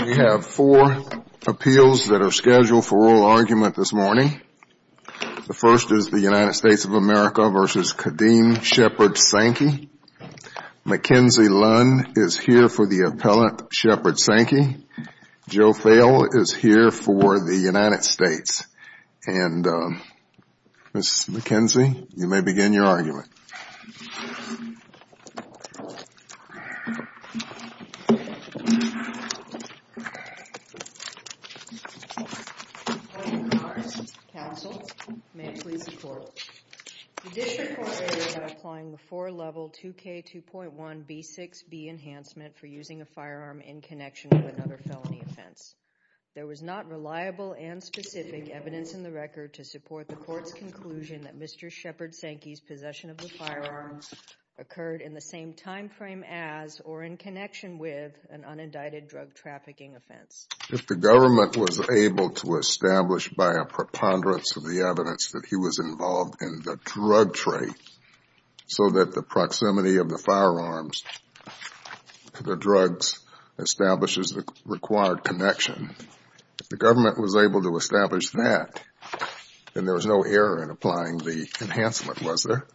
We have four appeals that are scheduled for oral argument this morning. The first is the United States of America v. Ka'Deem Sheppard-Sankey. Mackenzie Lunn is here for the appellate Sheppard-Sankey. Joe Fale is here for the United States. And Ms. Mackenzie, you may begin your argument. Counsel, may I please report? The district court is applying the four-level 2K2.1B6B enhancement for using a firearm in connection with another felony offense. There was not reliable and specific evidence in the record to support the court's conclusion that Mr. Sheppard-Sankey's use of firearms occurred in the same time frame as or in connection with an unindicted drug trafficking offense. If the government was able to establish by a preponderance of the evidence that he was involved in the drug trade so that the proximity of the firearms to the drugs establishes the required connection, if the government was able to establish that, then there was no error in applying the enhancement, was there?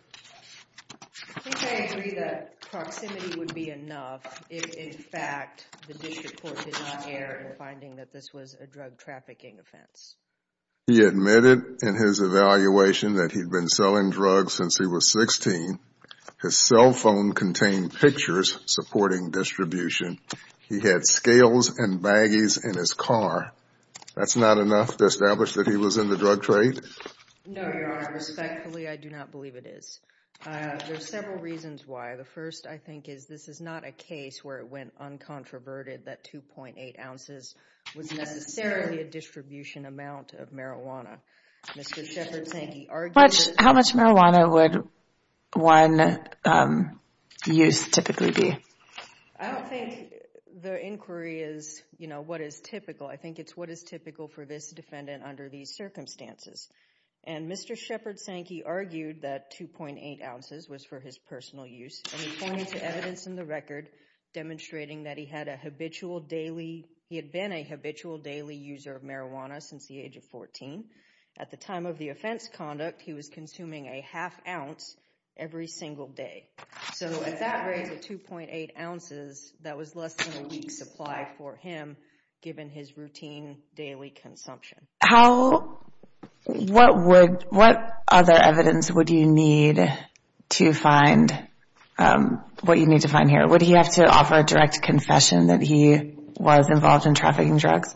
I think I agree that proximity would be enough if, in fact, the district court did not err in finding that this was a drug trafficking offense. He admitted in his evaluation that he'd been selling drugs since he was 16. His cell phone contained pictures supporting distribution. He had scales and baggies in his car. That's not enough to establish that he was in the drug trade? No, Your Honor. Respectfully, I do not believe it is. There are several reasons why. The first, I think, is this is not a case where it went uncontroverted that 2.8 ounces was necessarily a distribution amount of marijuana. How much marijuana would one use typically be? I don't think the inquiry is, you know, what is typical. I think it's what is typical for this defendant under these circumstances. And Mr. Shepard Sankey argued that 2.8 ounces was for his personal use. And he pointed to evidence in the record demonstrating that he had a habitual daily – he had been a habitual daily user of marijuana since the age of 14. At the time of the offense conduct, he was consuming a half ounce every single day. So, at that rate of 2.8 ounces, that was less than a week's supply for him, given his routine daily consumption. How – what would – what other evidence would you need to find – what you need to find here? Would he have to offer a direct confession that he was involved in trafficking drugs?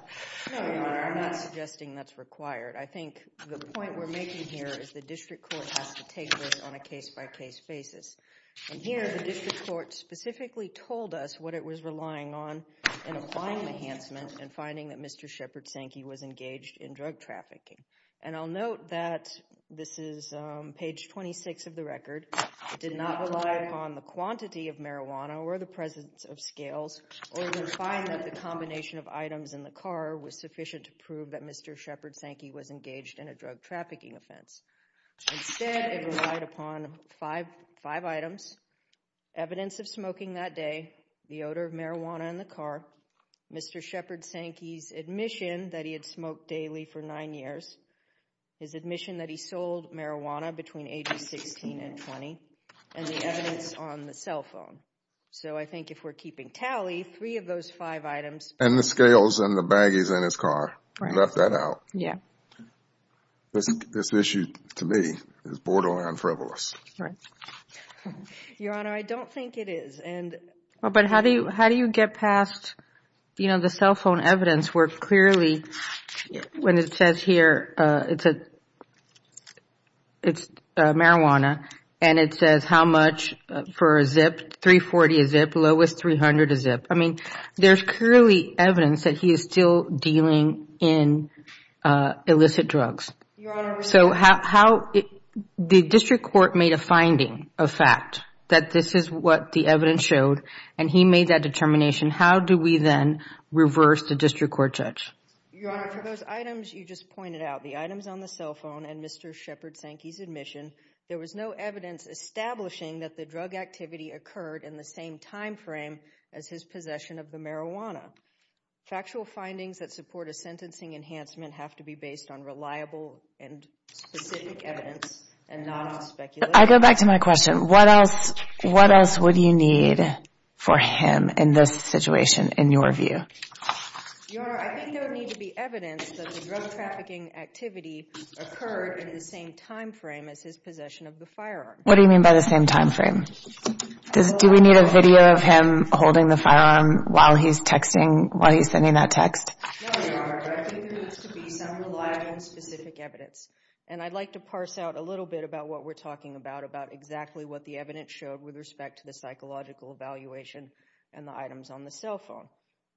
No, Your Honor. I'm not suggesting that's required. I think the point we're making here is the district court has to take this on a case-by-case basis. And here, the district court specifically told us what it was relying on in applying the enhancement and finding that Mr. Shepard Sankey was engaged in drug trafficking. And I'll note that this is page 26 of the record. It did not rely upon the quantity of marijuana or the presence of scales or even find that the combination of items in the car was sufficient to prove that Mr. Shepard Sankey was engaged in a drug trafficking offense. Instead, it relied upon five items, evidence of smoking that day, the odor of marijuana in the car, Mr. Shepard Sankey's admission that he had smoked daily for nine years, his admission that he sold marijuana between ages 16 and 20, and the evidence on the cell phone. So, I think if we're keeping tally, three of those five items – And the scales and the baggies in his car. Right. Left that out. Yeah. This issue, to me, is borderline frivolous. Right. Your Honor, I don't think it is. But how do you get past, you know, the cell phone evidence where clearly when it says here it's marijuana and it says how much for a zip, $340 a zip, lowest $300 a zip. I mean, there's clearly evidence that he is still dealing in illicit drugs. Your Honor – So, how – the district court made a finding of fact that this is what the evidence showed, and he made that determination. How do we then reverse the district court judge? Your Honor, for those items you just pointed out, the items on the cell phone and Mr. Shepard Sankey's admission, there was no evidence establishing that the drug activity occurred in the same timeframe as his possession of the marijuana. Factual findings that support a sentencing enhancement have to be based on reliable and specific evidence and not speculation. I go back to my question. What else would you need for him in this situation, in your view? Your Honor, I think there would need to be evidence that the drug trafficking activity occurred in the same timeframe as his possession of the firearm. What do you mean by the same timeframe? Do we need a video of him holding the firearm while he's texting, while he's sending that text? No, Your Honor, but I think there needs to be some reliable and specific evidence. And I'd like to parse out a little bit about what we're talking about, about exactly what the evidence showed with respect to the psychological evaluation and the items on the cell phone.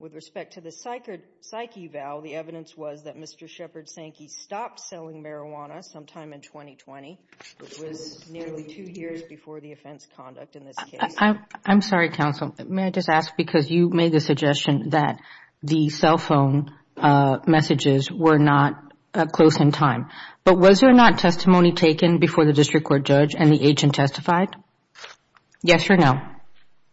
With respect to the psyche eval, the evidence was that Mr. Shepard Sankey stopped selling marijuana sometime in 2020, which was nearly two years before the offense conduct in this case. I'm sorry, counsel. May I just ask because you made the suggestion that the cell phone messages were not close in time. But was there not testimony taken before the district court judge and the agent testified? Yes or no?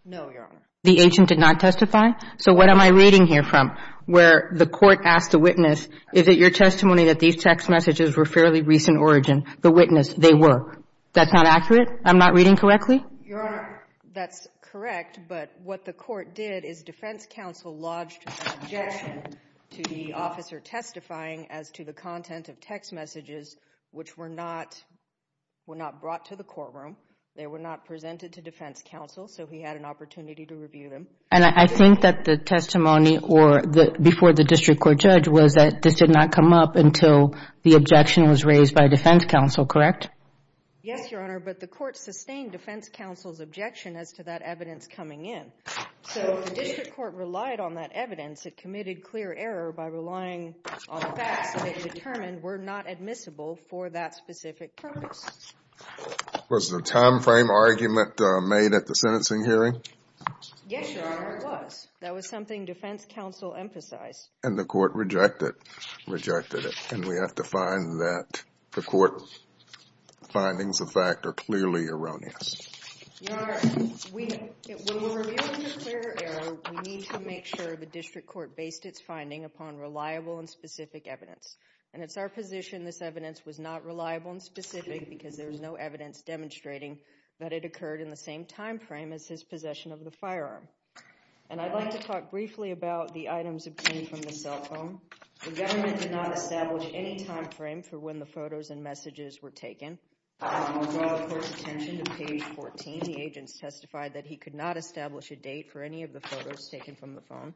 No, Your Honor. The agent did not testify? So what am I reading here from, where the court asked the witness, is it your testimony that these text messages were fairly recent origin? The witness, they were. That's not accurate? I'm not reading correctly? Your Honor, that's correct. But what the court did is defense counsel lodged objection to the officer testifying as to the content of text messages, which were not brought to the courtroom. They were not presented to defense counsel. So he had an opportunity to review them. And I think that the testimony before the district court judge was that this did not come up until the objection was raised by defense counsel, correct? Yes, Your Honor. But the court sustained defense counsel's objection as to that evidence coming in. So the district court relied on that evidence. It committed clear error by relying on facts that it determined were not admissible for that specific purpose. Was there a time frame argument made at the sentencing hearing? Yes, Your Honor, there was. That was something defense counsel emphasized. And the court rejected it. And we have to find that the court findings of fact are clearly erroneous. Your Honor, when we're reviewing the clear error, we need to make sure the district court based its finding upon reliable and specific evidence. And it's our position this evidence was not reliable and specific because there was no evidence demonstrating that it occurred in the same time frame as his possession of the firearm. And I'd like to talk briefly about the items obtained from the cell phone. The government did not establish any time frame for when the photos and messages were taken. While drawing the court's attention to page 14, the agents testified that he could not establish a date for any of the photos taken from the phone.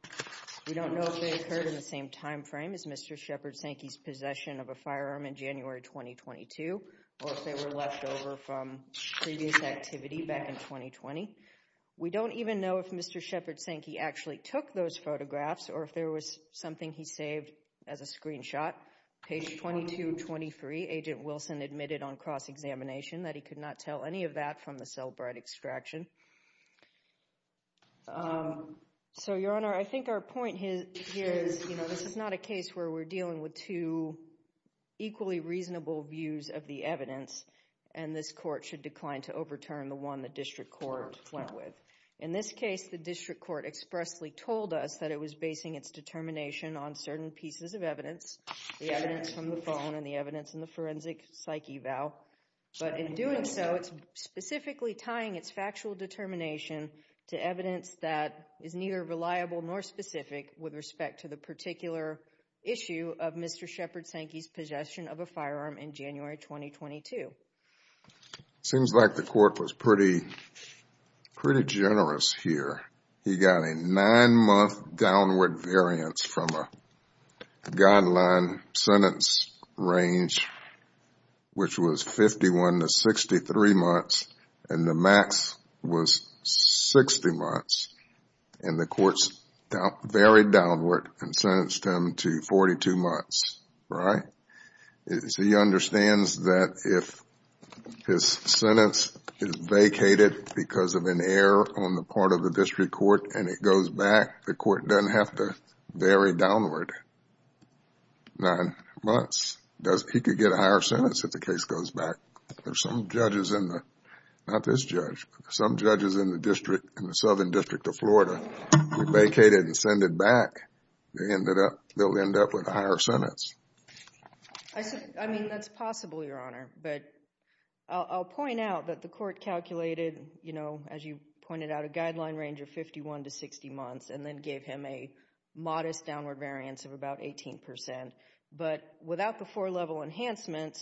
We don't know if they occurred in the same time frame as Mr. Shepard Sankey's possession of a firearm in January 2022 or if they were left over from previous activity back in 2020. We don't even know if Mr. Shepard Sankey actually took those photographs or if there was something he saved as a screenshot. Page 2223, Agent Wilson admitted on cross-examination that he could not tell any of that from the cell bright extraction. So, Your Honor, I think our point here is, you know, this is not a case where we're dealing with two equally reasonable views of the evidence and this court should decline to overturn the one the district court went with. In this case, the district court expressly told us that it was basing its determination on certain pieces of evidence, the evidence from the phone and the evidence in the forensic psyche valve. But in doing so, it's specifically tying its factual determination to evidence that is neither reliable nor specific with respect to the particular issue of Mr. Shepard Sankey's possession of a firearm in January 2022. It seems like the court was pretty generous here. He got a nine-month downward variance from a guideline sentence range, which was 51 to 63 months, and the max was 60 months. And the courts varied downward and sentenced him to 42 months, right? So he understands that if his sentence is vacated because of an error on the part of the district court and it goes back, the court doesn't have to vary downward nine months. He could get a higher sentence if the case goes back. There's some judges in the, not this judge, but some judges in the Southern District of Florida vacated and sent it back. They'll end up with a higher sentence. I mean, that's possible, Your Honor. But I'll point out that the court calculated, you know, as you pointed out, a guideline range of 51 to 60 months and then gave him a modest downward variance of about 18%. But without the four-level enhancement,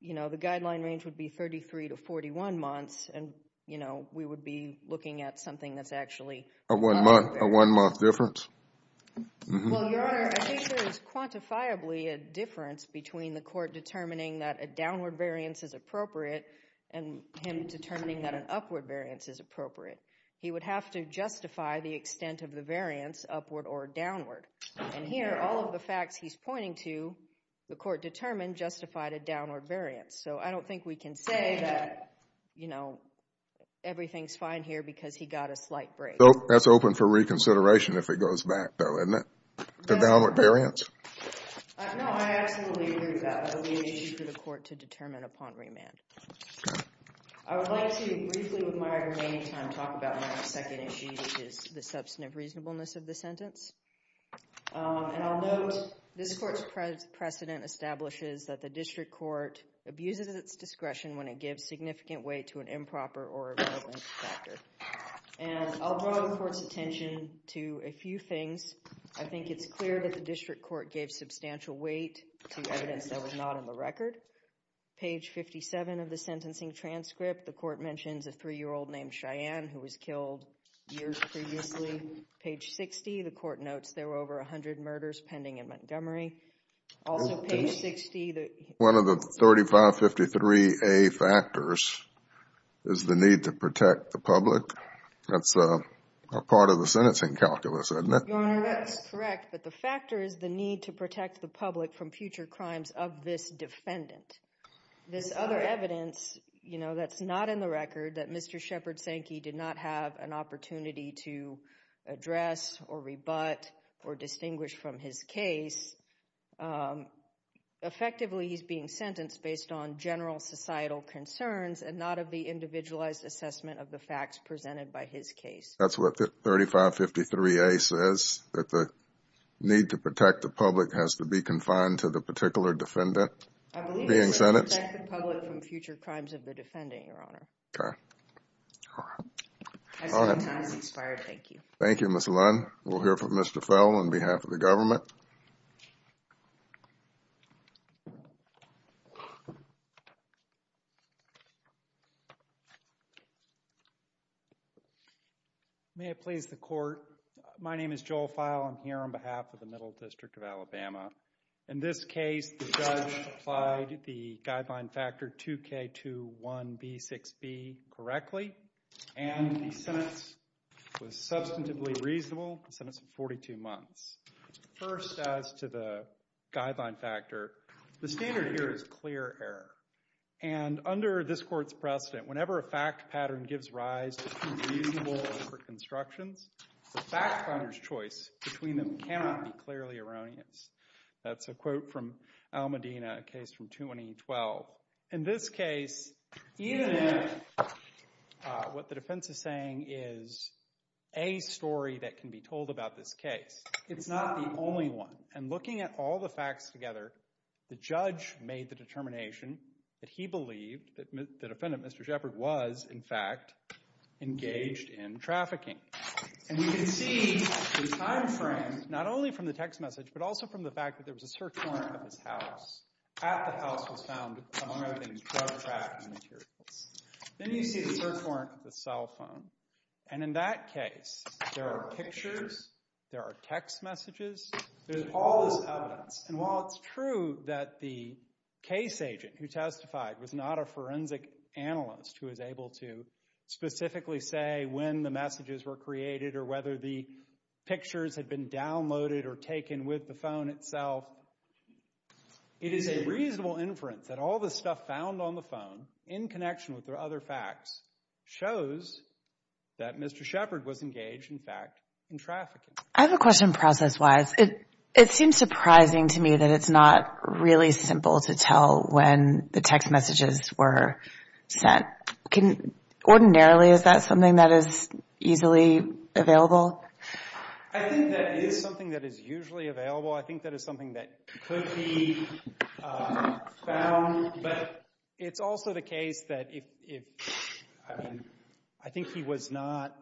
you know, the guideline range would be 33 to 41 months, and, you know, we would be looking at something that's actually a one-month difference. Well, Your Honor, I think there is quantifiably a difference between the court determining that a downward variance is appropriate and him determining that an upward variance is appropriate. He would have to justify the extent of the variance, upward or downward. And here, all of the facts he's pointing to, the court determined, justified a downward variance. So I don't think we can say that, you know, everything's fine here because he got a slight break. That's open for reconsideration if it goes back, though, isn't it, the downward variance? No, I absolutely agree with that. That would be an issue for the court to determine upon remand. Okay. I would like to briefly, with my remaining time, talk about my second issue, which is the substantive reasonableness of the sentence. And I'll note this court's precedent establishes that the district court abuses its discretion when it gives significant weight to an improper or irrelevant factor. And I'll draw the court's attention to a few things. I think it's clear that the district court gave substantial weight to evidence that was not on the record. Page 57 of the sentencing transcript, the court mentions a 3-year-old named Cheyenne who was killed years previously. Page 60, the court notes there were over 100 murders pending in Montgomery. Also, page 60, the... One of the 3553A factors is the need to protect the public. That's a part of the sentencing calculus, isn't it? Your Honor, that's correct, but the factor is the need to protect the public from future crimes of this defendant. This other evidence, you know, that's not in the record, that Mr. Shepard Sankey did not have an opportunity to address or rebut or distinguish from his case. Effectively, he's being sentenced based on general societal concerns and not of the individualized assessment of the facts presented by his case. That's what the 3553A says, that the need to protect the public has to be confined to the particular defendant being sentenced? To protect the public from future crimes of the defendant, Your Honor. Okay. I see the time has expired. Thank you. Thank you, Ms. Lund. We'll hear from Mr. Fowle on behalf of the government. May it please the court, my name is Joel Fowle. I'm here on behalf of the Middle District of Alabama. In this case, the judge applied the guideline factor 2K21B6B correctly, and the sentence was substantively reasonable, a sentence of 42 months. First, as to the guideline factor, the standard here is clear error. And under this court's precedent, whenever a fact pattern gives rise to two reasonable overconstructions, the fact finder's choice between them cannot be clearly erroneous. That's a quote from Al Medina, a case from 2012. In this case, even if what the defense is saying is a story that can be told about this case, it's not the only one. And looking at all the facts together, the judge made the determination that he believed that the defendant, Mr. Shepard, was, in fact, engaged in trafficking. And you can see the time frame, not only from the text message, but also from the fact that there was a search warrant at his house. At the house was found, among other things, drug trafficking materials. Then you see the search warrant with the cell phone. And in that case, there are pictures, there are text messages, there's all this evidence. And while it's true that the case agent who testified was not a forensic analyst who was able to specifically say when the messages were created or whether the pictures had been downloaded or taken with the phone itself, it is a reasonable inference that all the stuff found on the phone, in connection with the other facts, shows that Mr. Shepard was engaged, in fact, in trafficking. I have a question process-wise. It seems surprising to me that it's not really simple to tell when the text messages were sent. Ordinarily, is that something that is easily available? I think that is something that is usually available. I think that is something that could be found. But it's also the case that if, I mean, I think he was not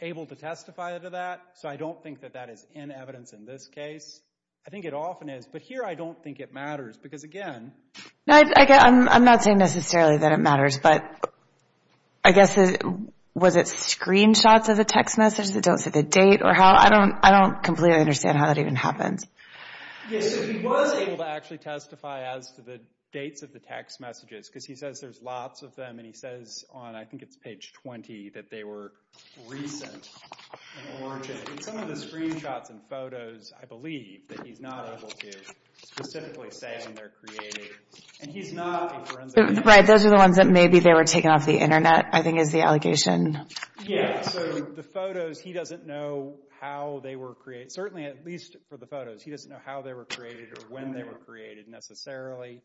able to testify to that, so I don't think that that is in evidence in this case. I think it often is. But here I don't think it matters because, again... I'm not saying necessarily that it matters, but I guess was it screenshots of the text messages that don't say the date? I don't completely understand how that even happens. Yes, he was able to actually testify as to the dates of the text messages because he says there's lots of them, and he says on, I think it's page 20, that they were recent in origin. In some of the screenshots and photos, I believe that he's not able to specifically say when they're created. And he's not a forensic analyst. Right, those are the ones that maybe they were taken off the Internet, I think is the allegation. Yes, so the photos, he doesn't know how they were created. Certainly, at least for the photos, he doesn't know how they were created or when they were created necessarily.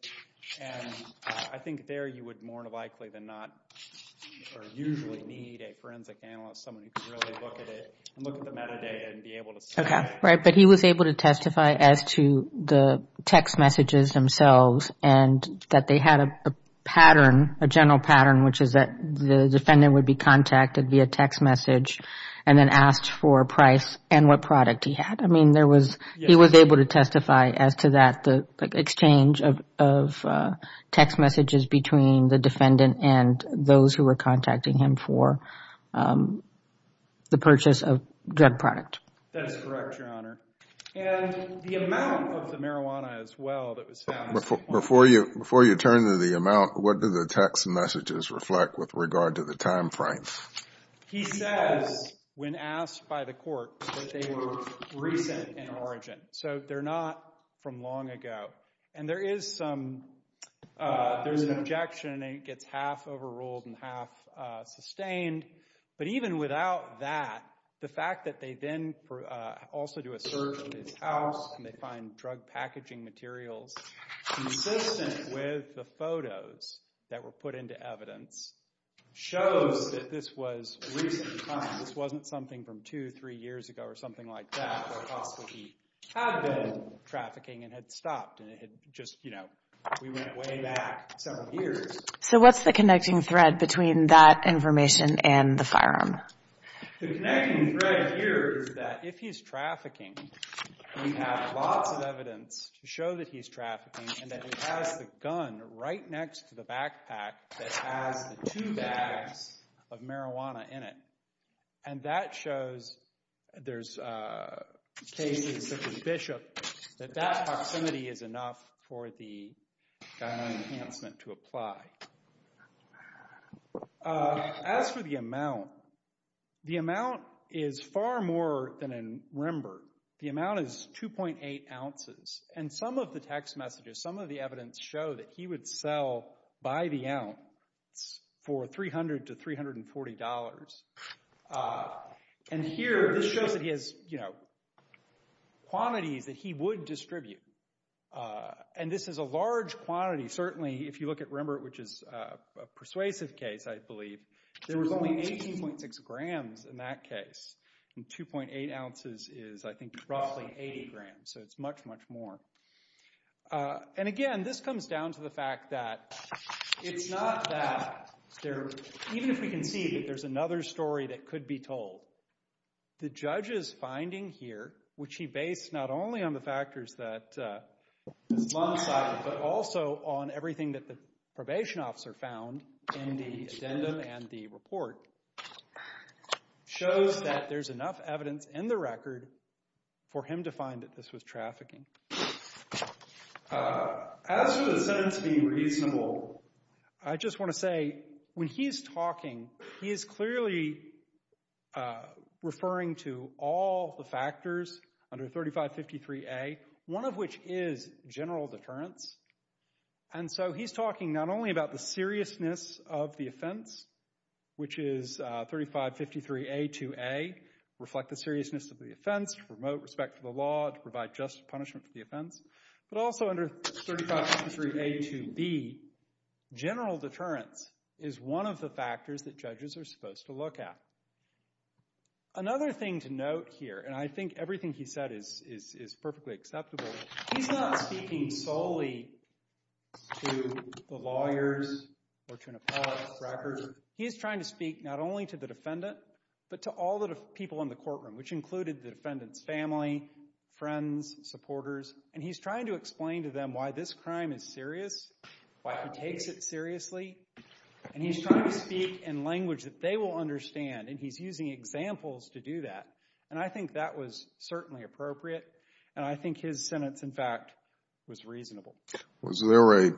And I think there you would more than likely than not or usually need a forensic analyst, someone who could really look at it and look at the metadata and be able to say that. Right, but he was able to testify as to the text messages themselves and that they had a pattern, a general pattern, which is that the defendant would be contacted via text message and then asked for a price and what product he had. I mean, he was able to testify as to that, the exchange of text messages between the defendant and those who were contacting him for the purchase of drug product. That is correct, Your Honor. And the amount of the marijuana as well that was found. Before you turn to the amount, what do the text messages reflect with regard to the time frame? He says when asked by the court that they were recent in origin. So they're not from long ago. And there is some, there's an objection, and it gets half overruled and half sustained. But even without that, the fact that they then also do a search of his house and they find drug packaging materials consistent with the photos that were put into evidence shows that this was recent in time. This wasn't something from two, three years ago or something like that that possibly he had been trafficking and had stopped. And it had just, you know, we went way back several years. So what's the connecting thread between that information and the firearm? The connecting thread here is that if he's trafficking, we have lots of evidence to show that he's trafficking and that he has the gun right next to the backpack that has the two bags of marijuana in it. And that shows there's cases such as Bishop that that proximity is enough for the gun enhancement to apply. As for the amount, the amount is far more than in Rembrandt. The amount is 2.8 ounces. And some of the text messages, some of the evidence show that he would sell by the ounce for $300 to $340. And here, this shows that he has quantities that he would distribute. And this is a large quantity. Certainly, if you look at Rembrandt, which is a persuasive case, I believe, there was only 18.6 grams in that case. And 2.8 ounces is, I think, roughly 80 grams. So it's much, much more. And again, this comes down to the fact that it's not that there, even if we can see that there's another story that could be told, the judge's finding here, which he based not only on the factors that his mom cited, but also on everything that the probation officer found in the addendum and the report, shows that there's enough evidence in the record for him to find that this was trafficking. As for the sentence being reasonable, I just want to say, when he's talking, he is clearly referring to all the factors under 3553A, one of which is general deterrence. And so he's talking not only about the seriousness of the offense, which is 3553A2A, reflect the seriousness of the offense, promote respect for the law, provide just punishment for the offense, but also under 3553A2B, general deterrence is one of the factors that judges are supposed to look at. Another thing to note here, and I think everything he said is perfectly acceptable, he's not speaking solely to the lawyers or to an appellate's record. He's trying to speak not only to the defendant, but to all the people in the courtroom, which included the defendant's family, friends, supporters, and he's trying to explain to them why this crime is serious, why he takes it seriously, and he's trying to speak in language that they will understand, and he's using examples to do that. And I think that was certainly appropriate, and I think his sentence, in fact, was reasonable. Was there a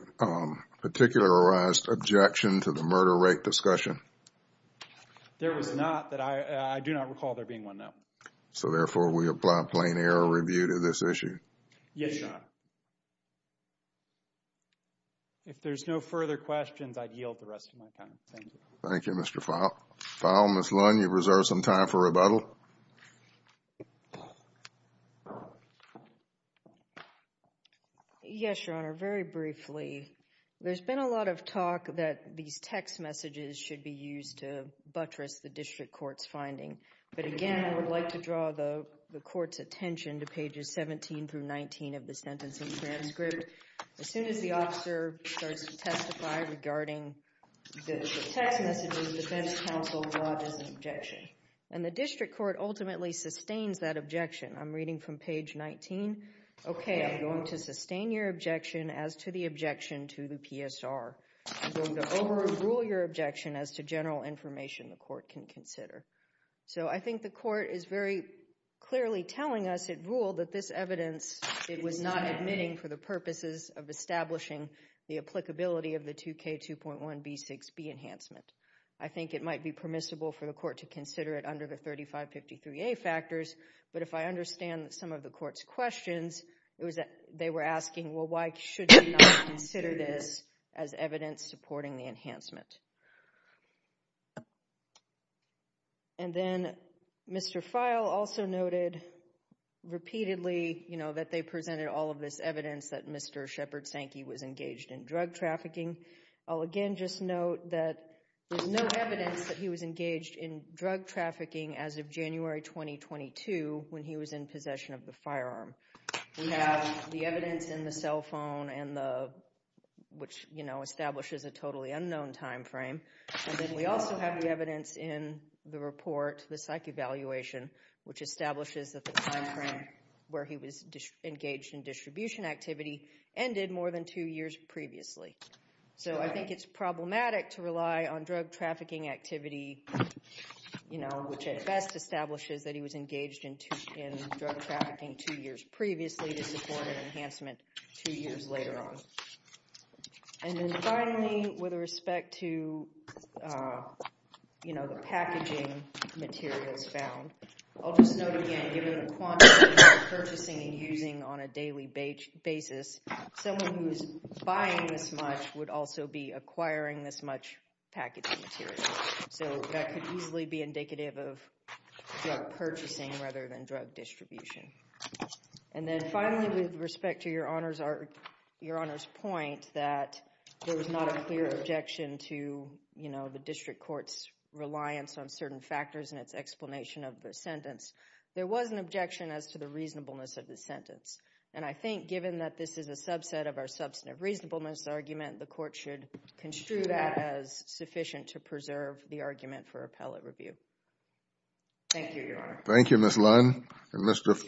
particularized objection to the murder rate discussion? There was not. I do not recall there being one, no. So, therefore, we apply plain error review to this issue? Yes, Your Honor. If there's no further questions, I'd yield the rest of my time. Thank you. Thank you, Mr. Fowle. Fowle, Ms. Lund, you've reserved some time for rebuttal. Yes, Your Honor. Very briefly, there's been a lot of talk that these text messages should be used to buttress the district court's finding, but again, I would like to draw the court's attention to pages 17 through 19 of the sentencing transcript. As soon as the officer starts to testify regarding the text messages, defense counsel lodges an objection, and the district court ultimately sustains that objection. I'm reading from page 19. Okay, I'm going to sustain your objection as to the objection to the PSR. I'm going to overrule your objection as to general information the court can consider. So I think the court is very clearly telling us it ruled that this evidence it was not admitting for the purposes of establishing the applicability of the 2K2.1B6B enhancement. I think it might be permissible for the court to consider it under the 3553A factors, but if I understand some of the court's questions, they were asking, well, why should we not consider this as evidence supporting the enhancement? And then Mr. Feil also noted repeatedly, you know, that they presented all of this evidence that Mr. Shepard Sankey was engaged in drug trafficking. I'll again just note that there's no evidence that he was engaged in drug trafficking as of January 2022 when he was in possession of the firearm. We have the evidence in the cell phone, which, you know, establishes a totally unknown time frame. And then we also have the evidence in the report, the psych evaluation, which establishes that the time frame where he was engaged in distribution activity ended more than two years previously. So I think it's problematic to rely on drug trafficking activity, you know, which at best establishes that he was engaged in drug trafficking two years previously to support an enhancement two years later on. And then finally, with respect to, you know, the packaging materials found, I'll just note again, given the quantity of purchasing and using on a daily basis, someone who is buying this much would also be acquiring this much packaging material. So that could easily be indicative of drug purchasing rather than drug distribution. And then finally, with respect to Your Honor's point that there was not a clear objection to, you know, the district court's reliance on certain factors in its explanation of the sentence, there was an objection as to the reasonableness of the sentence. And I think given that this is a subset of our substantive reasonableness argument, the court should construe that as sufficient to preserve the argument for appellate review. Thank you, Your Honor. Thank you, Ms. Lund and Mr. Feil.